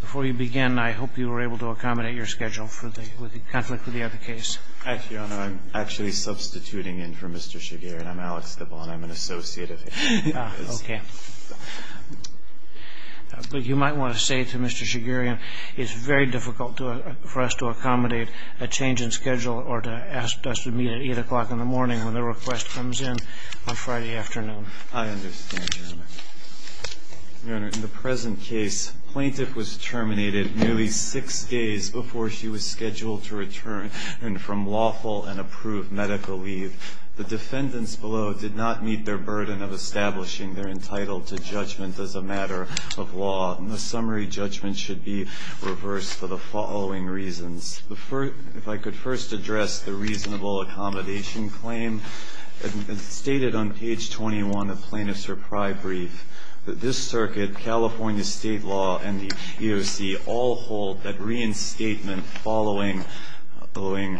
Before you begin, I hope you were able to accommodate your schedule with the conflict with the other case. Hi, Your Honor. I'm actually substituting in for Mr. Shigerian. I'm Alex Debon. I'm an associate of his. Okay. But you might want to say to Mr. Shigerian it's very difficult for us to accommodate a change in schedule or to ask us to meet at 8 o'clock in the morning when the request comes in on Friday afternoon. I understand, Your Honor. Your Honor, in the present case, plaintiff was terminated nearly six days before she was scheduled to return from lawful and approved medical leave. The defendants below did not meet their burden of establishing their entitlement to judgment as a matter of law. The summary judgment should be reversed for the following reasons. If I could first address the reasonable accommodation claim. It's stated on page 21 of plaintiff's reprieve brief that this circuit, California State law, and the EOC all hold that reinstatement following holding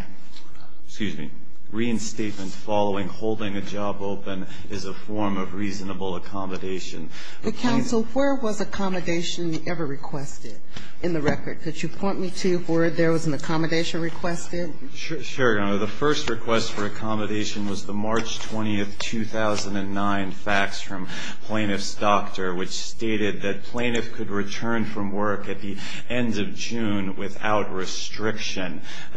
a job open is a form of reasonable accommodation. But, counsel, where was accommodation ever requested in the record? Could you point me to where there was an accommodation requested? Sure, Your Honor. The first request for accommodation was the March 20th, 2009, fax from plaintiff's doctor, which stated that plaintiff could return from work at the end of June without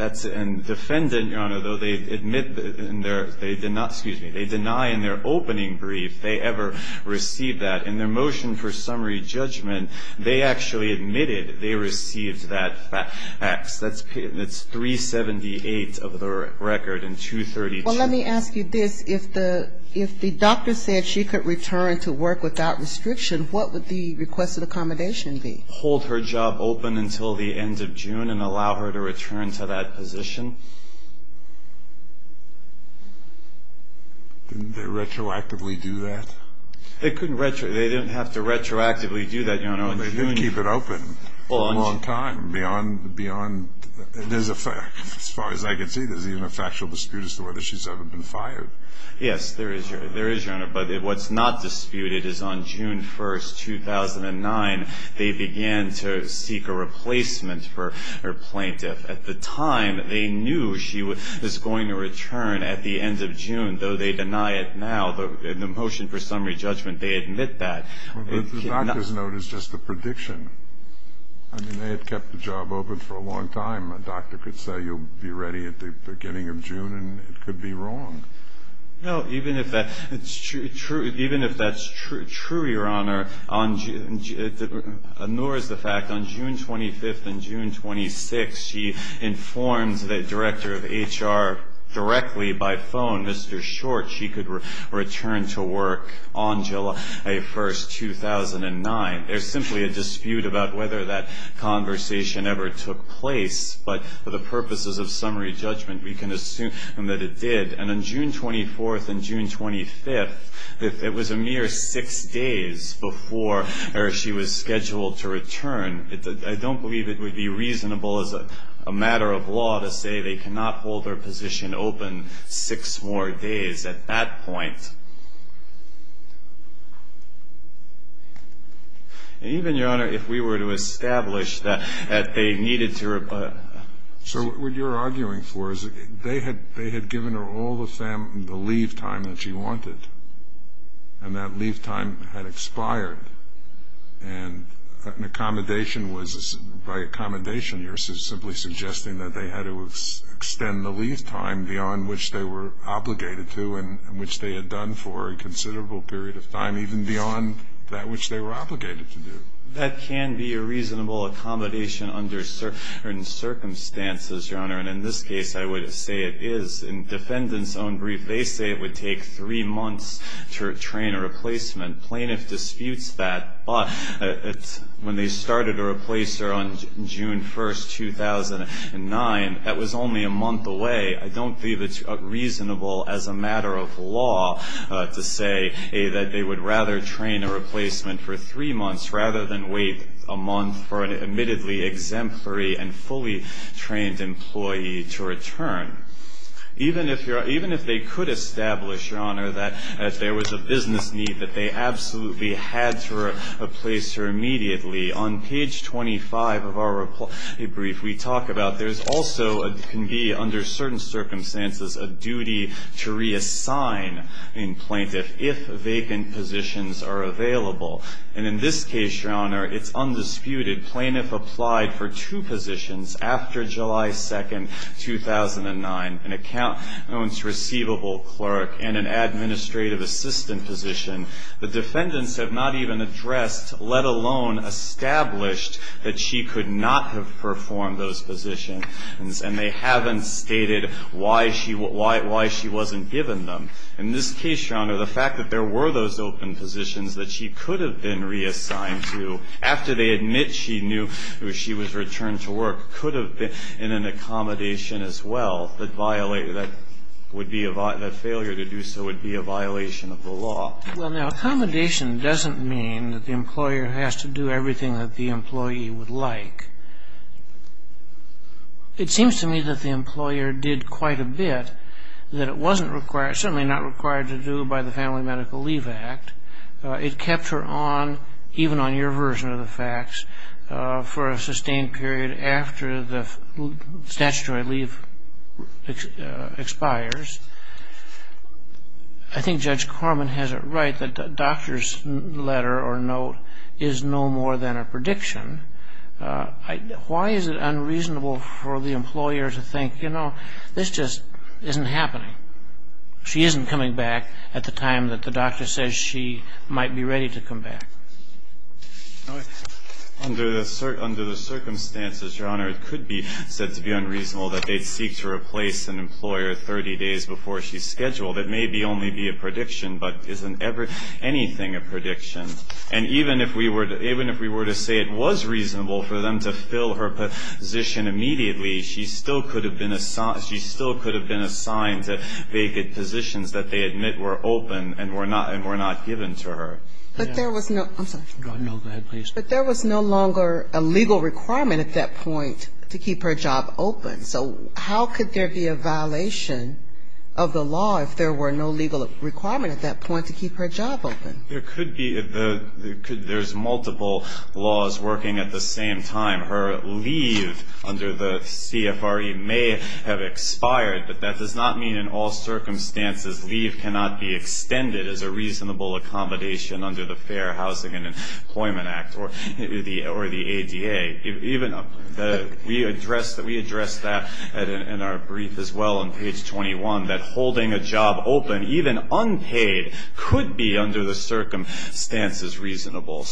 That's and defendant, Your Honor, though they admit in their, they did not, excuse me, they deny in their opening brief they ever received that. In their motion for summary judgment, they actually admitted they received that fax. That's 378 of the record and 232. Well, let me ask you this. If the doctor said she could return to work without restriction, what would the request of accommodation be? Hold her job open until the end of June and allow her to return to that position. Didn't they retroactively do that? They couldn't retroactively. They didn't have to retroactively do that, Your Honor. Well, they did keep it open for a long time beyond. As far as I can see, there's even a factual dispute as to whether she's ever been fired. Yes, there is, Your Honor. But what's not disputed is on June 1st, 2009, they began to seek a replacement for her plaintiff. At the time, they knew she was going to return at the end of June, though they deny it now. In the motion for summary judgment, they admit that. The doctor's note is just a prediction. I mean, they had kept the job open for a long time. A doctor could say you'll be ready at the beginning of June, and it could be wrong. No, even if that's true, Your Honor, nor is the fact on June 25th and June 26th, she informed the director of HR directly by phone, Mr. Short, she could return to work on July 1st, 2009. There's simply a dispute about whether that conversation ever took place. But for the purposes of summary judgment, we can assume that it did. And on June 24th and June 25th, it was a mere six days before she was scheduled to return. I don't believe it would be reasonable as a matter of law to say they cannot hold her position open six more days at that point. And even, Your Honor, if we were to establish that they needed to reply. So what you're arguing for is they had given her all the leave time that she wanted, and that leave time had expired. And by accommodation, you're simply suggesting that they had to extend the leave time beyond which they were obligated to and which they had done for a considerable period of time, even beyond that which they were obligated to do. That can be a reasonable accommodation under certain circumstances, Your Honor. And in this case, I would say it is. In defendant's own brief, they say it would take three months to train a replacement. Plaintiff disputes that. But when they started a replacer on June 1st, 2009, that was only a month away. I don't believe it's reasonable as a matter of law to say that they would rather train a replacement for three months rather than wait a month for an admittedly exemplary and fully trained employee to return. Even if they could establish, Your Honor, that there was a business need, that they absolutely had to replace her immediately, on page 25 of our replacement brief, we talk about there also can be, under certain circumstances, a duty to reassign a plaintiff if vacant positions are available. And in this case, Your Honor, it's undisputed. Plaintiff applied for two positions after July 2nd, 2009, an accounts receivable clerk and an administrative assistant position. The defendants have not even addressed, let alone established, that she could not have performed those positions. And they haven't stated why she wasn't given them. In this case, Your Honor, the fact that there were those open positions that she could have been reassigned to after they admit she knew she was returned to work could have been in an accommodation as well that failure to do so would be a violation of the law. Well, now, accommodation doesn't mean that the employer has to do everything that the employee would like. It seems to me that the employer did quite a bit that it wasn't required, certainly not required to do by the Family Medical Leave Act. It kept her on, even on your version of the facts, for a sustained period after the statutory leave expires. I think Judge Corman has it right that a doctor's letter or note is no more than a prediction. Why is it unreasonable for the employer to think, you know, this just isn't happening? She isn't coming back at the time that the doctor says she might be ready to come back. Under the circumstances, Your Honor, it could be said to be unreasonable that they'd seek to replace an employer 30 days before she's scheduled. It may only be a prediction, but isn't anything a prediction? And even if we were to say it was reasonable for them to fill her position immediately, she still could have been assigned to vacant positions that they admit were open and were not given to her. But there was no longer a legal requirement at that point to keep her job open. So how could there be a violation of the law if there were no legal requirement at that point to keep her job open? There could be. There's multiple laws working at the same time. Her leave under the CFRE may have expired, but that does not mean in all circumstances leave cannot be extended as a reasonable accommodation under the Fair Housing and Employment Act or the ADA. We addressed that in our brief as well on page 21, that holding a job open, even unpaid, could be under the circumstances reasonable.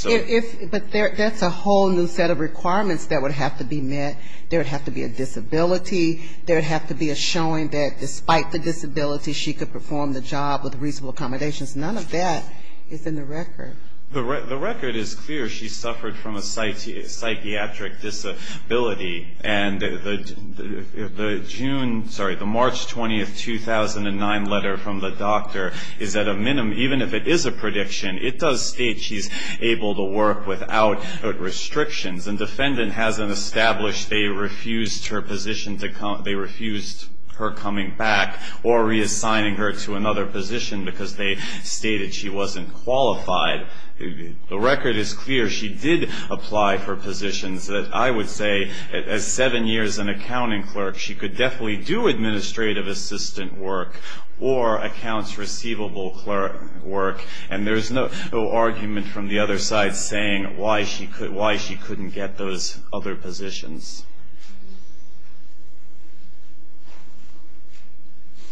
But that's a whole new set of requirements that would have to be met. There would have to be a disability. There would have to be a showing that despite the disability she could perform the job with reasonable accommodations. None of that is in the record. The record is clear. She suffered from a psychiatric disability. And the June, sorry, the March 20, 2009 letter from the doctor is that even if it is a prediction, it does state she's able to work without restrictions. And defendant hasn't established they refused her position to come, they refused her coming back or reassigning her to another position because they stated she wasn't qualified. The record is clear. She did apply for positions that I would say as seven years an accounting clerk, she could definitely do administrative assistant work or accounts receivable clerk work. And there's no argument from the other side saying why she couldn't get those other positions.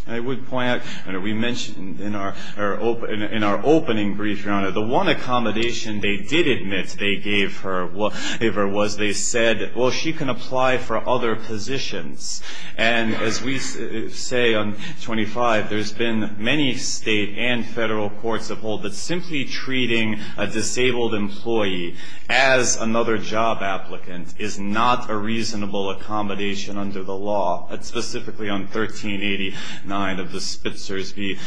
I would point out, and we mentioned in our opening brief, Your Honor, the one accommodation they did admit they gave her was they said, well, she can apply for other positions. And as we say on 25, there's been many state and federal courts of hold that simply treating a disabled employee as another job applicant is not a reasonable accommodation under the law, specifically on 1389 of the Spitzer's v.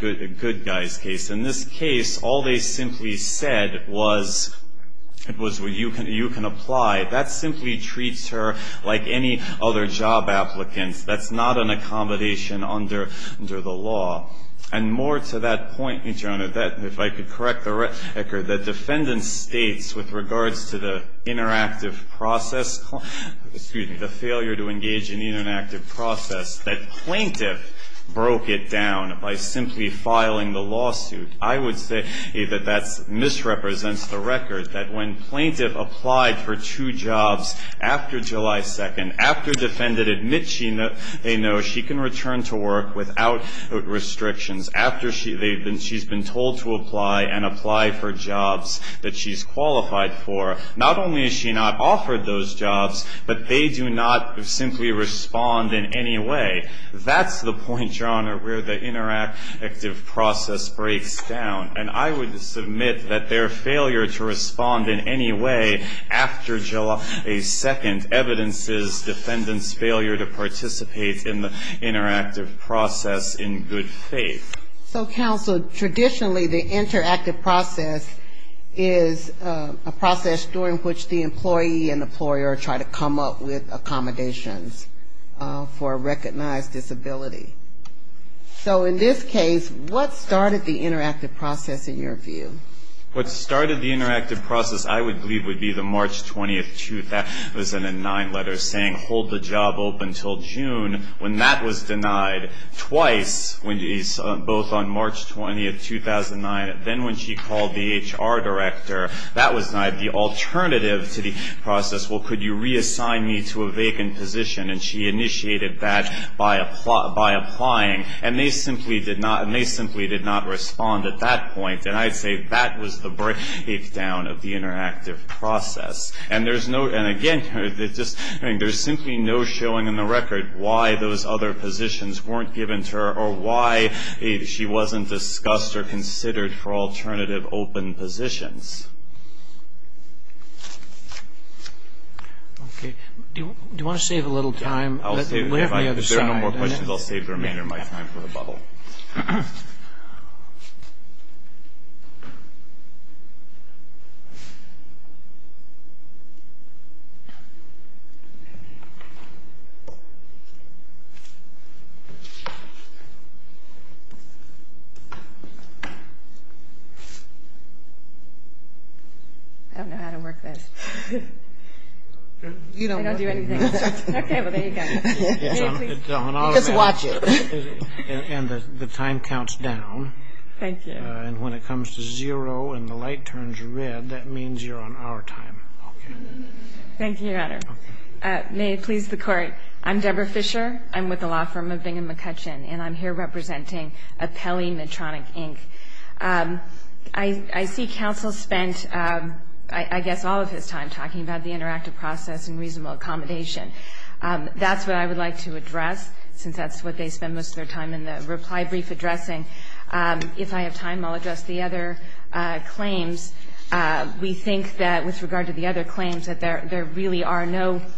Good Guy's case. In this case, all they simply said was you can apply. That simply treats her like any other job applicant. That's not an accommodation under the law. And more to that point, Your Honor, if I could correct the record, the defendant states with regards to the interactive process, excuse me, the failure to engage in interactive process, that plaintiff broke it down by simply filing the lawsuit. I would say that that misrepresents the record, that when plaintiff applied for two jobs after July 2nd, after defendant admits she knows she can return to work without restrictions, after she's been told to apply and apply for jobs that she's qualified for, not only has she not offered those jobs, but they do not simply respond in any way. That's the point, Your Honor, where the interactive process breaks down. And I would submit that their failure to respond in any way after July 2nd evidences defendant's failure to participate in the interactive process in good faith. So, counsel, traditionally the interactive process is a process during which the employee and employer try to come up with accommodations for a recognized disability. So in this case, what started the interactive process in your view? What started the interactive process I would believe would be the March 20th, that was in a nine-letter saying, hold the job open until June. When that was denied twice, both on March 20th, 2009, then when she called the HR director, that was denied. The alternative to the process, well, could you reassign me to a vacant position? And she initiated that by applying, and they simply did not respond at that point. And I'd say that was the breakdown of the interactive process. And again, there's simply no showing in the record why those other positions weren't given to her or why she wasn't discussed or considered for alternative open positions. Okay. Do you want to save a little time? If there are no more questions, I'll save the remainder of my time for the bubble. Okay. I don't know how to work this. I don't do anything. Okay. Well, there you go. Just watch it. And the time counts down. Thank you. And when it comes to zero and the light turns red, that means you're on our time. Thank you, Your Honor. May it please the Court. I'm Deborah Fisher. I'm with the law firm of Bingham & McCutcheon, and I'm here representing Apelli Medtronic, Inc. I see counsel spent, I guess, all of his time talking about the interactive process and reasonable accommodation. That's what I would like to address, since that's what they spend most of their time in the reply brief addressing. If I have time, I'll address the other claims. We think that with regard to the other claims, that there really are no –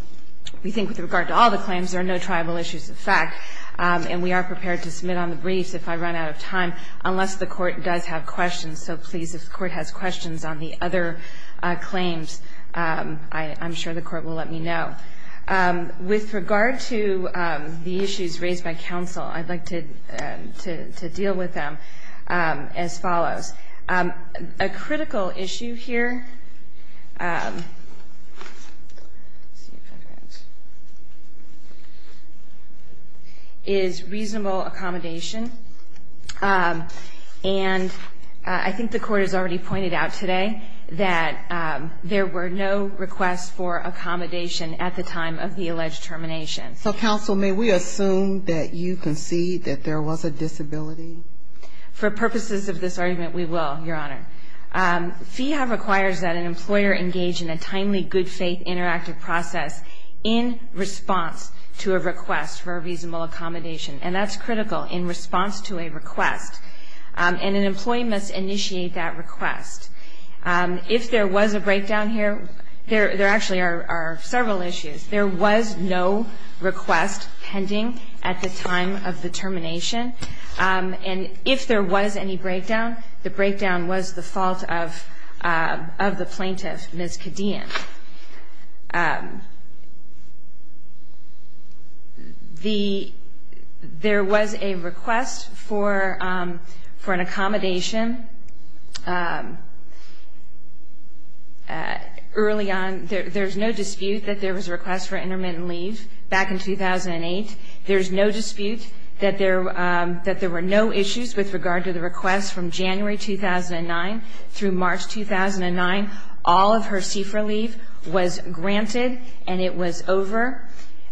we think with regard to all the claims, there are no triable issues of fact, and we are prepared to submit on the briefs if I run out of time, unless the Court does have questions. So please, if the Court has questions on the other claims, I'm sure the Court will let me know. With regard to the issues raised by counsel, I'd like to deal with them as follows. A critical issue here is reasonable accommodation, and I think the Court has already pointed out today that there were no requests for accommodation at the time of the alleged termination. So, counsel, may we assume that you concede that there was a disability? For purposes of this argument, we will, Your Honor. FEHA requires that an employer engage in a timely, good-faith, interactive process in response to a request for a reasonable accommodation, and that's critical, in response to a request. And an employee must initiate that request. If there was a breakdown here, there actually are several issues. There was no request pending at the time of the termination. And if there was any breakdown, the breakdown was the fault of the plaintiff, Ms. Cadian. There was a request for an accommodation early on. There's no dispute that there was a request for intermittent leave back in 2008. There's no dispute that there were no issues with regard to the request from January 2009 through March 2009. All of her CFRA leave was granted, and it was over.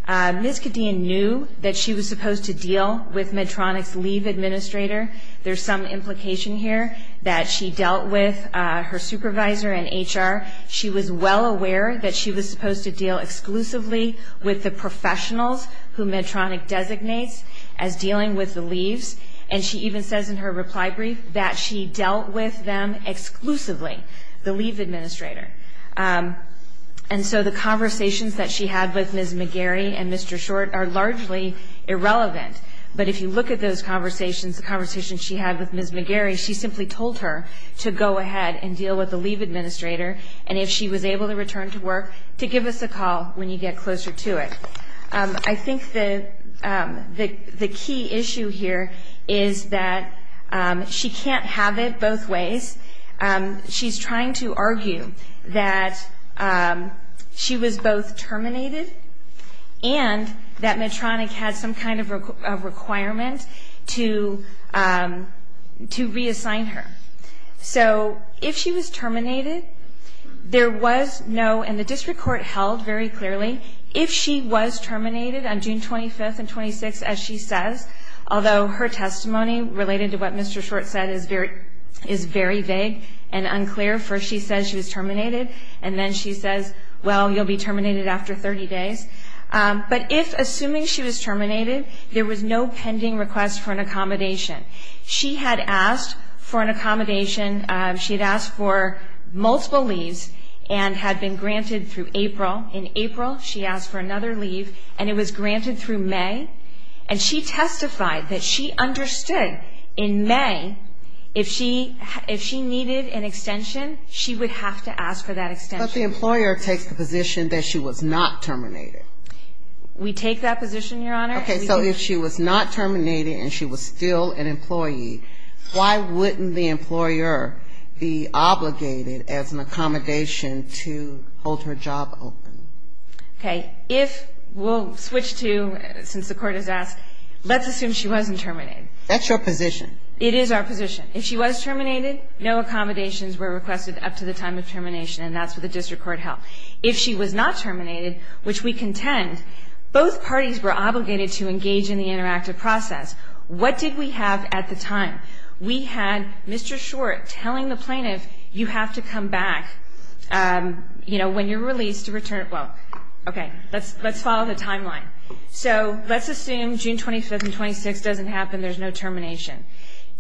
Ms. Cadian knew that she was supposed to deal with Medtronic's leave administrator. There's some implication here that she dealt with her supervisor and HR. She was well aware that she was supposed to deal exclusively with the professionals who Medtronic designates as dealing with the leaves. And she even says in her reply brief that she dealt with them exclusively, the leave administrator. And so the conversations that she had with Ms. McGarry and Mr. Short are largely irrelevant. But if you look at those conversations, the conversations she had with Ms. McGarry, she simply told her to go ahead and deal with the leave administrator, and if she was able to return to work, to give us a call when you get closer to it. I think the key issue here is that she can't have it both ways. She's trying to argue that she was both terminated and that Medtronic had some kind of requirement to reassign her. So if she was terminated, there was no, and the district court held very clearly, if she was terminated on June 25th and 26th, as she says, although her testimony related to what Mr. Short said is very vague and unclear. First she says she was terminated, and then she says, well, you'll be terminated after 30 days. But if, assuming she was terminated, there was no pending request for an accommodation. She had asked for an accommodation. She had asked for multiple leaves and had been granted through April. In April, she asked for another leave, and it was granted through May. And she testified that she understood in May, if she needed an extension, she would have to ask for that extension. But the employer takes the position that she was not terminated. We take that position, Your Honor. Okay, so if she was not terminated and she was still an employee, why wouldn't the employer be obligated as an accommodation to hold her job open? Okay. If we'll switch to, since the Court has asked, let's assume she wasn't terminated. That's your position. It is our position. If she was terminated, no accommodations were requested up to the time of termination, and that's what the district court held. If she was not terminated, which we contend, both parties were obligated to engage in the interactive process. What did we have at the time? We had Mr. Short telling the plaintiff, you have to come back, you know, when you're released to return. Well, okay, let's follow the timeline. So let's assume June 25th and 26th doesn't happen, there's no termination.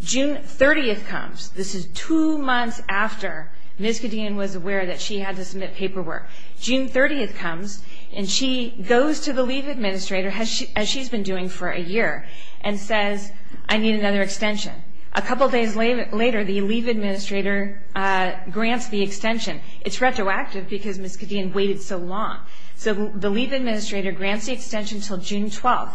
June 30th comes. This is two months after Ms. Cadena was aware that she had to submit paperwork. June 30th comes, and she goes to the leave administrator, as she's been doing for a year, and says, I need another extension. A couple days later, the leave administrator grants the extension. It's retroactive because Ms. Cadena waited so long. So the leave administrator grants the extension until June 12th.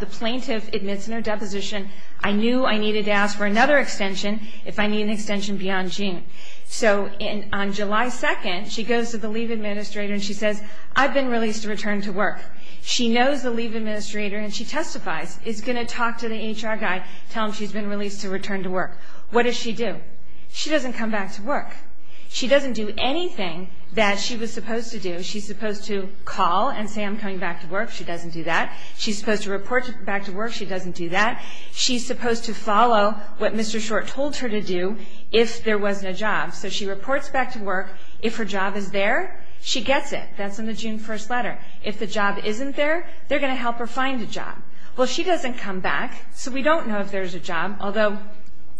The plaintiff admits in her deposition, I knew I needed to ask for another extension if I need an extension beyond June. So on July 2nd, she goes to the leave administrator, and she says, I've been released to return to work. She knows the leave administrator, and she testifies. Is going to talk to the HR guy, tell him she's been released to return to work. What does she do? She doesn't come back to work. She doesn't do anything that she was supposed to do. She's supposed to call and say, I'm coming back to work. She doesn't do that. She's supposed to report back to work. She doesn't do that. She's supposed to follow what Mr. Short told her to do if there was no job. So she reports back to work. If her job is there, she gets it. That's in the June 1st letter. If the job isn't there, they're going to help her find a job. Well, she doesn't come back, so we don't know if there's a job, although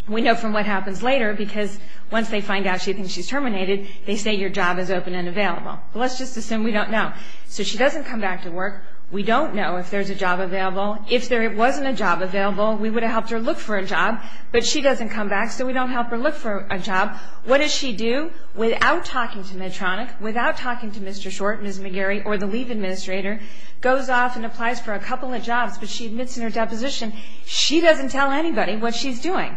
we know from what happens later, because once they find out she thinks she's terminated, they say your job is open and available. Let's just assume we don't know. So she doesn't come back to work. We don't know if there's a job available. If there wasn't a job available, we would have helped her look for a job, but she doesn't come back, so we don't help her look for a job. What does she do? Without talking to Medtronic, without talking to Mr. Short, Ms. McGarry, or the leave administrator, goes off and applies for a couple of jobs, but she admits in her deposition she doesn't tell anybody what she's doing.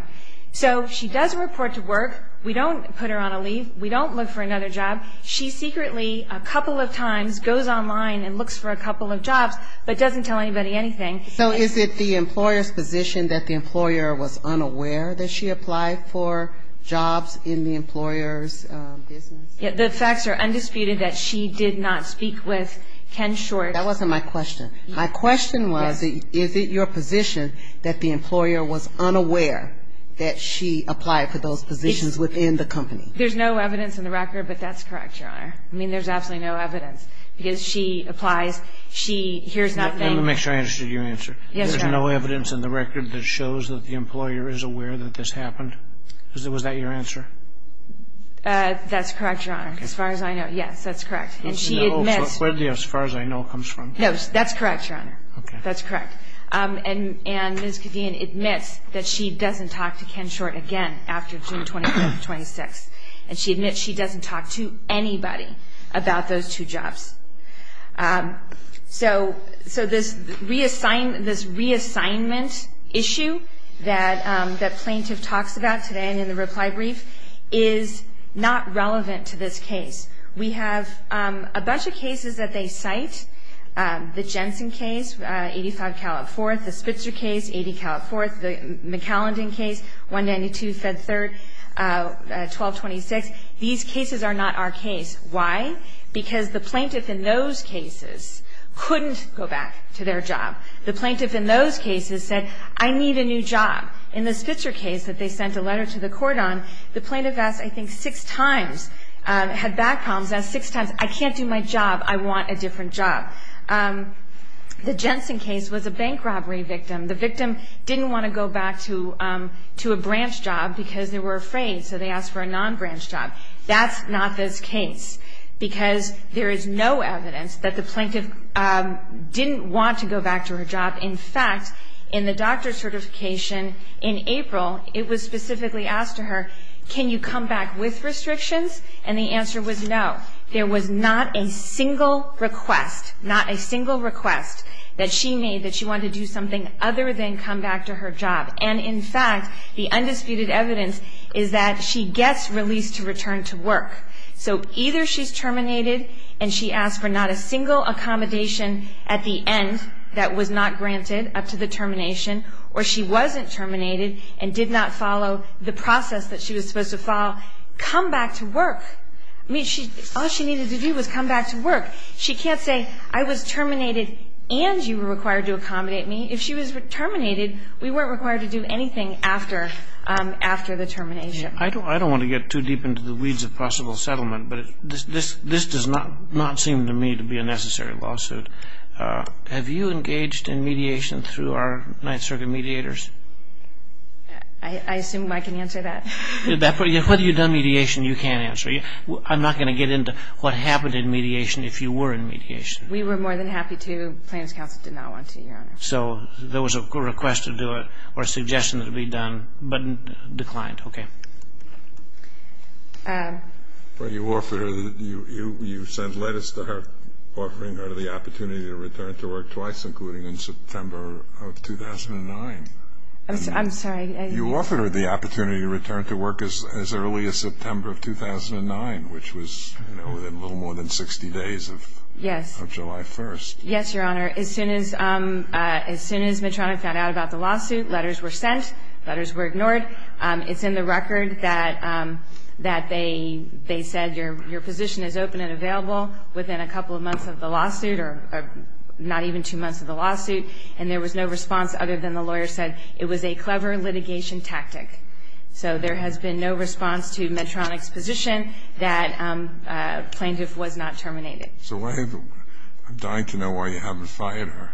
So she does report to work. We don't put her on a leave. We don't look for another job. She secretly a couple of times goes online and looks for a couple of jobs, but doesn't tell anybody anything. So is it the employer's position that the employer was unaware that she applied for jobs in the employer's business? The facts are undisputed that she did not speak with Ken Short. That wasn't my question. My question was, is it your position that the employer was unaware that she applied for those positions within the company? There's no evidence in the record, but that's correct, Your Honor. I mean, there's absolutely no evidence, because she applies. She hears nothing. Let me make sure I understood your answer. There's no evidence in the record that shows that the employer is aware that this happened? Was that your answer? That's correct, Your Honor, as far as I know. Yes, that's correct. And she admits. Where the as far as I know comes from? No, that's correct, Your Honor. That's correct. And Ms. Gideon admits that she doesn't talk to Ken Short again after June 25th, 26th. And she admits she doesn't talk to anybody about those two jobs. So this reassignment issue that the plaintiff talks about today in the reply brief is not relevant to this case. We have a bunch of cases that they cite, the Jensen case, 85 Cal at 4th, the Spitzer case, 80 Cal at 4th, the McAllendon case, 192 Fed 3rd, 1226. These cases are not our case. Why? Because the plaintiff in those cases couldn't go back to their job. The plaintiff in those cases said, I need a new job. In the Spitzer case that they sent a letter to the court on, the plaintiff asked, I think, six times, had back problems, asked six times, I can't do my job. I want a different job. The Jensen case was a bank robbery victim. The victim didn't want to go back to a branch job because they were afraid, so they asked for a non-branch job. That's not this case because there is no evidence that the plaintiff didn't want to go back to her job. In fact, in the doctor certification in April, it was specifically asked of her, can you come back with restrictions? And the answer was no. There was not a single request, not a single request that she made that she wanted to do something other than come back to her job. And, in fact, the undisputed evidence is that she gets released to return to work. So either she's terminated and she asked for not a single accommodation at the end that was not granted up to the termination, or she wasn't terminated and did not follow the process that she was supposed to follow, come back to work. I mean, all she needed to do was come back to work. She can't say, I was terminated and you were required to accommodate me. If she was terminated, we weren't required to do anything after the termination. I don't want to get too deep into the weeds of possible settlement, but this does not seem to me to be a necessary lawsuit. Have you engaged in mediation through our Ninth Circuit mediators? I assume I can answer that. Whether you've done mediation, you can answer. I'm not going to get into what happened in mediation if you were in mediation. We were more than happy to. The plaintiff's counsel did not want to, Your Honor. So there was a request to do it or a suggestion to be done, but declined. Okay. But you offered her, you sent letters to her offering her the opportunity to return to work twice, including in September of 2009. I'm sorry. You offered her the opportunity to return to work as early as September of 2009, which was, you know, within a little more than 60 days of July 1st. Yes, Your Honor. As soon as Medtronic found out about the lawsuit, letters were sent. Letters were ignored. It's in the record that they said your position is open and available within a couple of months of the lawsuit or not even two months of the lawsuit, and there was no response other than the lawyer said it was a clever litigation tactic. So there has been no response to Medtronic's position that plaintiff was not terminated. So I'm dying to know why you haven't fired her.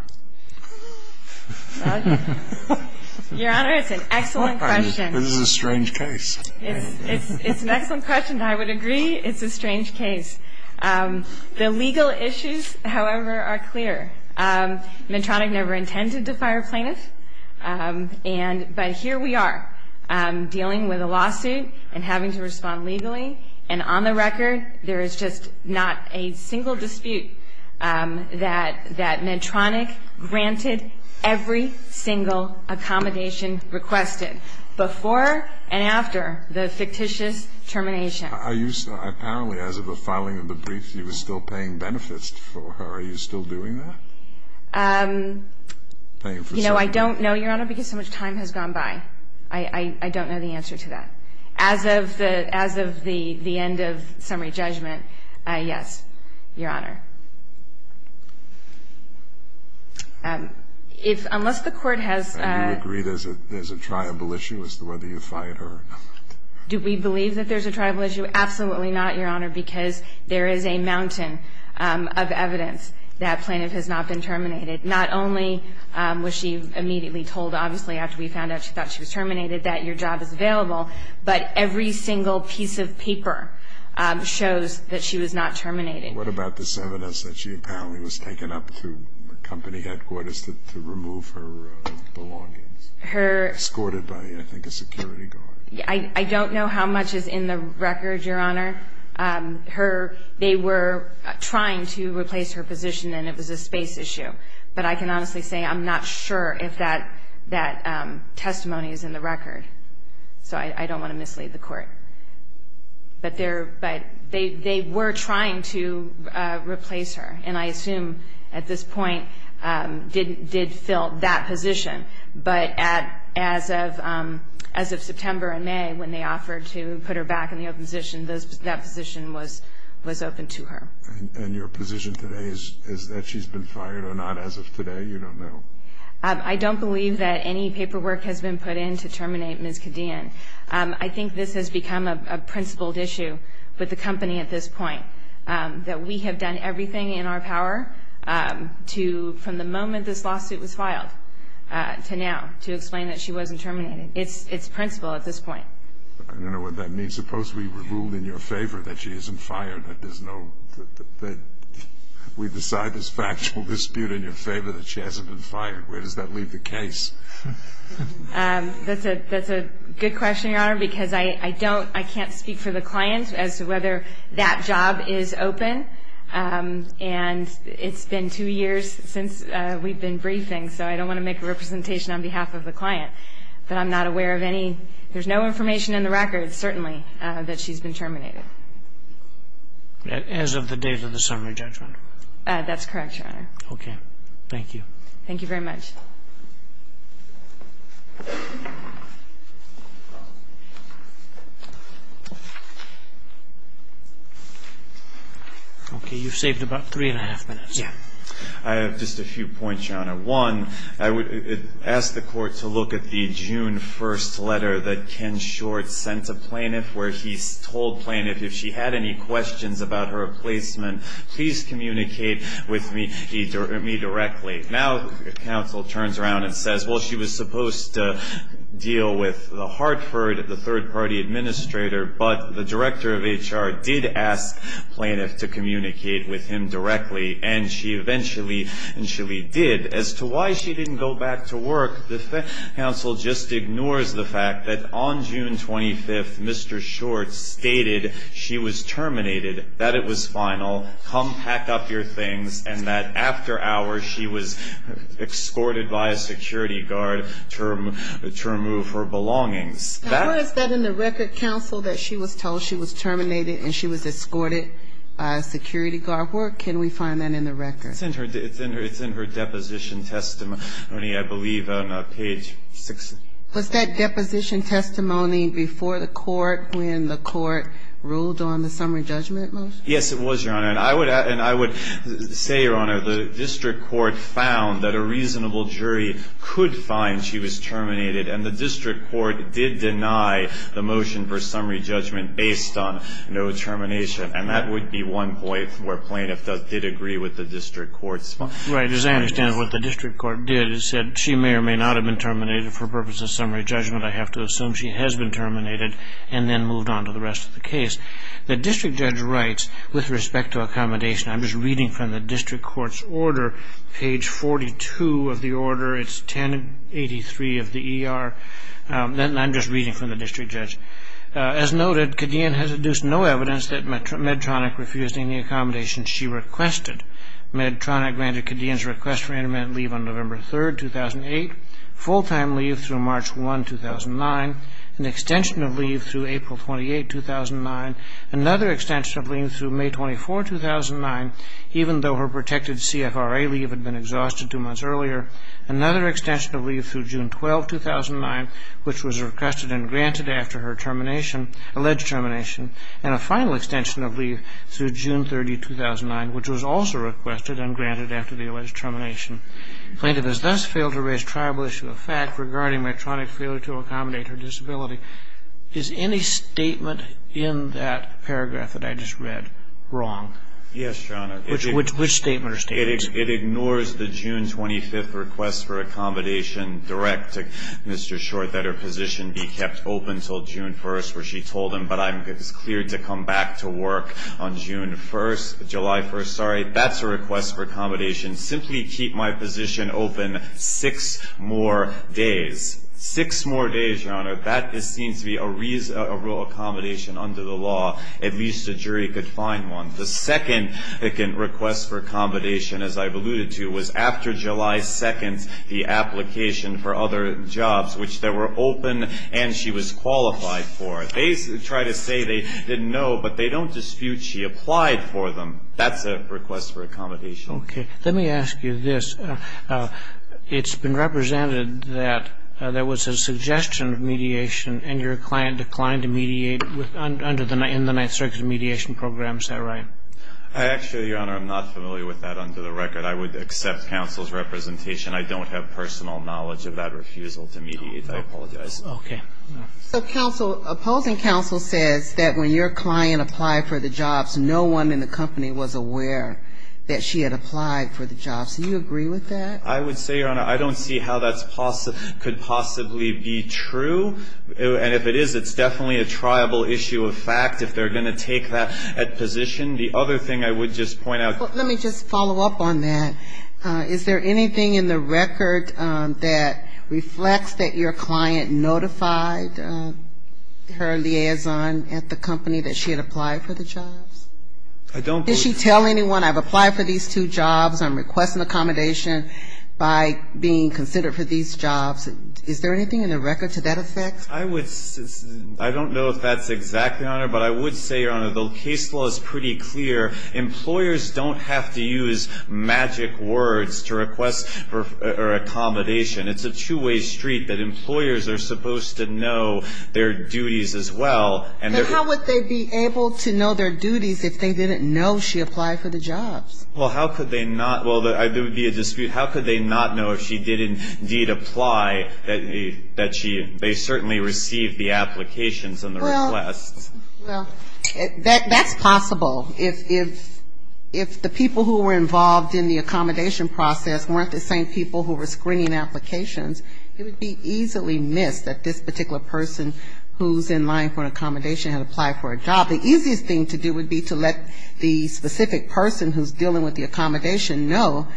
Your Honor, it's an excellent question. This is a strange case. It's an excellent question. I would agree it's a strange case. The legal issues, however, are clear. Medtronic never intended to fire a plaintiff, but here we are dealing with a lawsuit and having to respond legally, and on the record there is just not a single dispute that Medtronic granted every single accommodation requested before and after the fictitious termination. Are you apparently, as of the filing of the brief, you were still paying benefits for her? Are you still doing that? You know, I don't know, Your Honor, because so much time has gone by. I don't know the answer to that. As of the end of summary judgment, yes, Your Honor. Unless the Court has ---- And you agree there's a tribal issue as to whether you fired her or not? Do we believe that there's a tribal issue? Absolutely not, Your Honor, because there is a mountain of evidence that plaintiff has not been terminated. Not only was she immediately told, obviously, after we found out she thought she was terminated, that your job is available, but every single piece of paper shows that she was not terminated. What about this evidence that she apparently was taken up to the company headquarters to remove her belongings, escorted by, I think, a security guard? I don't know how much is in the record, Your Honor. They were trying to replace her position, and it was a space issue. But I can honestly say I'm not sure if that testimony is in the record, so I don't want to mislead the Court. But they were trying to replace her, and I assume at this point did fill that position. But as of September and May, when they offered to put her back in the open position, that position was open to her. And your position today is that she's been fired or not as of today? You don't know? I don't believe that any paperwork has been put in to terminate Ms. Cadian. I think this has become a principled issue with the company at this point, that we have done everything in our power from the moment this lawsuit was filed to now to explain that she wasn't terminated. It's principled at this point. I don't know what that means. Suppose we ruled in your favor that she isn't fired, that we decide this factual dispute in your favor that she hasn't been fired. Where does that leave the case? That's a good question, Your Honor, because I can't speak for the client as to whether that job is open. And it's been two years since we've been briefing, so I don't want to make a representation on behalf of the client. But I'm not aware of any ñ there's no information in the records, certainly, that she's been terminated. As of the date of the summary judgment? That's correct, Your Honor. Okay. Thank you. Thank you very much. Okay. You've saved about three and a half minutes. Yeah. I have just a few points, Your Honor. One, I would ask the court to look at the June 1st letter that Ken Short sent to Plaintiff where he told Plaintiff if she had any questions about her placement, please communicate with me directly. Now counsel turns around and says, well, she was supposed to deal with Hartford, the third-party administrator, but the director of HR did ask Plaintiff to communicate with him directly, and she eventually did. As to why she didn't go back to work, the counsel just ignores the fact that on June 25th Mr. Short stated she was terminated, that it was final, come pack up your things, and that after hours she was escorted by a security guard to remove her belongings. Now where is that in the record, counsel, that she was told she was terminated and she was escorted by a security guard? Where can we find that in the record? It's in her deposition testimony, I believe, on page 6. Was that deposition testimony before the court when the court ruled on the summary judgment motion? Yes, it was, Your Honor. And I would say, Your Honor, the district court found that a reasonable jury could find she was terminated, and the district court did deny the motion for summary judgment based on no termination, and that would be one point where plaintiff did agree with the district court. Right. As I understand it, what the district court did is said she may or may not have been terminated for purpose of summary judgment. I have to assume she has been terminated and then moved on to the rest of the case. The district judge writes, with respect to accommodation, I'm just reading from the district court's order, page 42 of the order, it's 1083 of the ER, and I'm just reading from the district judge, As noted, Cadian has deduced no evidence that Medtronic refused any accommodation she requested. Medtronic granted Cadian's request for intermittent leave on November 3, 2008, full-time leave through March 1, 2009, an extension of leave through April 28, 2009, another extension of leave through May 24, 2009, even though her protected CFRA leave had been exhausted two months earlier, another extension of leave through June 12, 2009, which was requested and granted after her termination, alleged termination, and a final extension of leave through June 30, 2009, which was also requested and granted after the alleged termination. Plaintiff has thus failed to raise triable issue of fact regarding Medtronic's failure to accommodate her disability. Is any statement in that paragraph that I just read wrong? Yes, Your Honor. Which statement or statements? It ignores the June 25th request for accommodation direct to Mr. Short that her position be kept open until June 1st, where she told him, but I'm cleared to come back to work on June 1st, July 1st. Sorry, that's a request for accommodation. Simply keep my position open six more days. Six more days, Your Honor. That seems to be a real accommodation under the law. At least a jury could find one. The second request for accommodation, as I've alluded to, was after July 2nd, the application for other jobs, which they were open and she was qualified for. They try to say they didn't know, but they don't dispute she applied for them. That's a request for accommodation. Okay. Let me ask you this. It's been represented that there was a suggestion of mediation and your client declined to mediate in the Ninth Circuit mediation program. Is that right? Actually, Your Honor, I'm not familiar with that under the record. I would accept counsel's representation. I don't have personal knowledge of that refusal to mediate. I apologize. Okay. So opposing counsel says that when your client applied for the jobs, no one in the company was aware that she had applied for the jobs. Do you agree with that? I would say, Your Honor, I don't see how that could possibly be true. And if it is, it's definitely a triable issue of fact if they're going to take that position. The other thing I would just point out. Let me just follow up on that. Is there anything in the record that reflects that your client notified her liaison at the company that she had applied for the jobs? I don't believe so. Did she tell anyone, I've applied for these two jobs, I'm requesting accommodation by being considered for these jobs? Is there anything in the record to that effect? I don't know if that's exactly, Your Honor, but I would say, Your Honor, the case law is pretty clear. Employers don't have to use magic words to request accommodation. It's a two-way street that employers are supposed to know their duties as well. But how would they be able to know their duties if they didn't know she applied for the jobs? Well, how could they not? Well, there would be a dispute. How could they not know if she did indeed apply, that they certainly received the applications and the requests? Well, that's possible. If the people who were involved in the accommodation process weren't the same people who were screening applications, it would be easily missed that this particular person who's in line for an accommodation had applied for a job. The easiest thing to do would be to let the specific person who's dealing with the accommodation know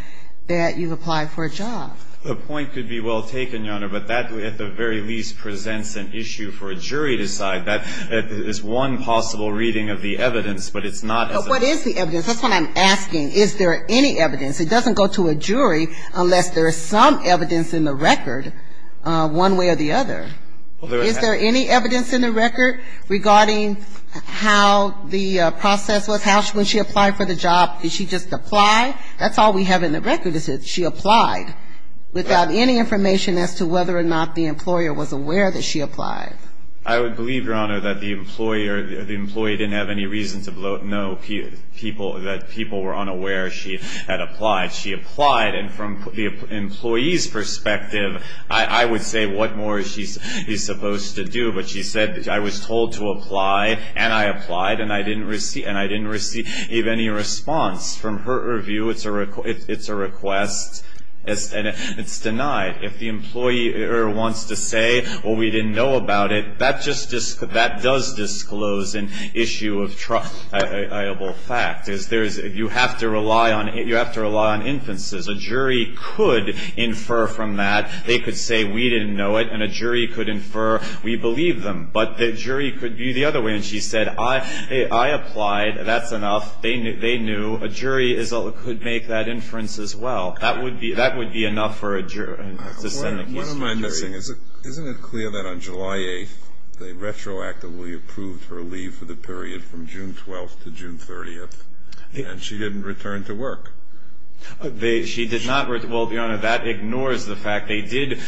that you've applied for a job. The point could be well taken, Your Honor, but that, at the very least, presents an issue for a jury to decide. That is one possible reading of the evidence, but it's not as a ---- But what is the evidence? That's what I'm asking. Is there any evidence? It doesn't go to a jury unless there is some evidence in the record one way or the other. Is there any evidence in the record regarding how the process was? How, when she applied for the job, did she just apply? That's all we have in the record is that she applied without any information as to whether or not the employer was aware that she applied. I would believe, Your Honor, that the employer, the employee didn't have any reason to know that people were unaware she had applied. And from the employee's perspective, I would say what more is she supposed to do? But she said, I was told to apply, and I applied, and I didn't receive any response. From her view, it's a request, and it's denied. If the employer wants to say, well, we didn't know about it, that does disclose an issue of triable fact. You have to rely on inferences. A jury could infer from that. They could say, we didn't know it, and a jury could infer, we believe them. But the jury could view the other way, and she said, I applied, that's enough. They knew. A jury could make that inference as well. That would be enough for a jury. What am I missing? Isn't it clear that on July 8th, they retroactively approved her leave for the period from June 12th to June 30th, and she didn't return to work? She did not. Well, Your Honor, that ignores the fact they did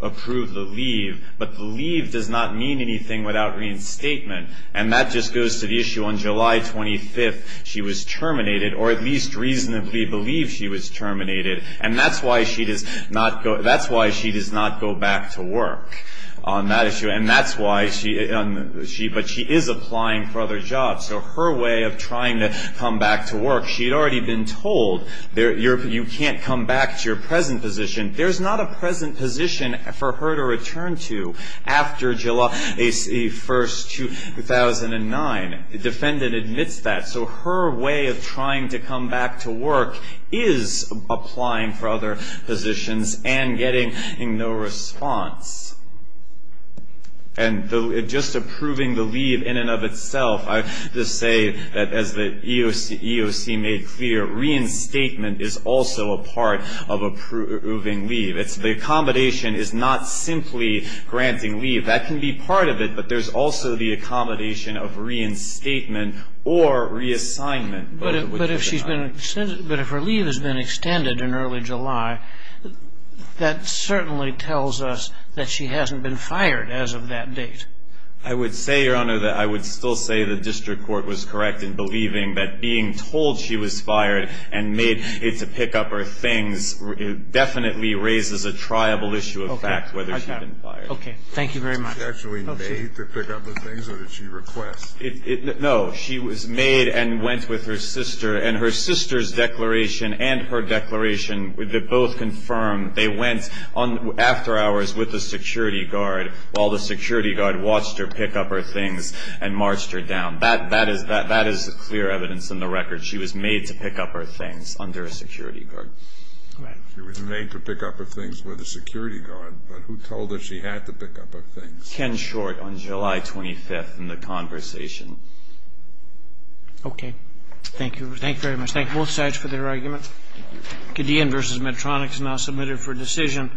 approve the leave, but the leave does not mean anything without reinstatement. And that just goes to the issue on July 25th, she was terminated, or at least reasonably believed she was terminated. And that's why she does not go back to work on that issue. And that's why she – but she is applying for other jobs. So her way of trying to come back to work, she had already been told, you can't come back to your present position. There's not a present position for her to return to after July 1st, 2009. The defendant admits that. So her way of trying to come back to work is applying for other positions and getting no response. And just approving the leave in and of itself, I just say that as the EOC made clear, reinstatement is also a part of approving leave. The accommodation is not simply granting leave. That can be part of it, but there's also the accommodation of reinstatement or reassignment. But if she's been – but if her leave has been extended in early July, that certainly tells us that she hasn't been fired as of that date. I would say, Your Honor, that I would still say the district court was correct in believing that being told she was fired and made to pick up her things definitely raises a triable issue of fact whether she's been fired. Okay. Thank you very much. Was she actually made to pick up her things or did she request? No. She was made and went with her sister. And her sister's declaration and her declaration, they both confirm they went after hours with the security guard while the security guard watched her pick up her things and marched her down. That is clear evidence in the record. She was made to pick up her things under a security guard. Right. She was made to pick up her things with a security guard, but who told her she had to pick up her things? Ken Short on July 25th in the conversation. Okay. Thank you. Thank you very much. Thank both sides for their argument. Gideon v. Medtronic is now submitted for decision.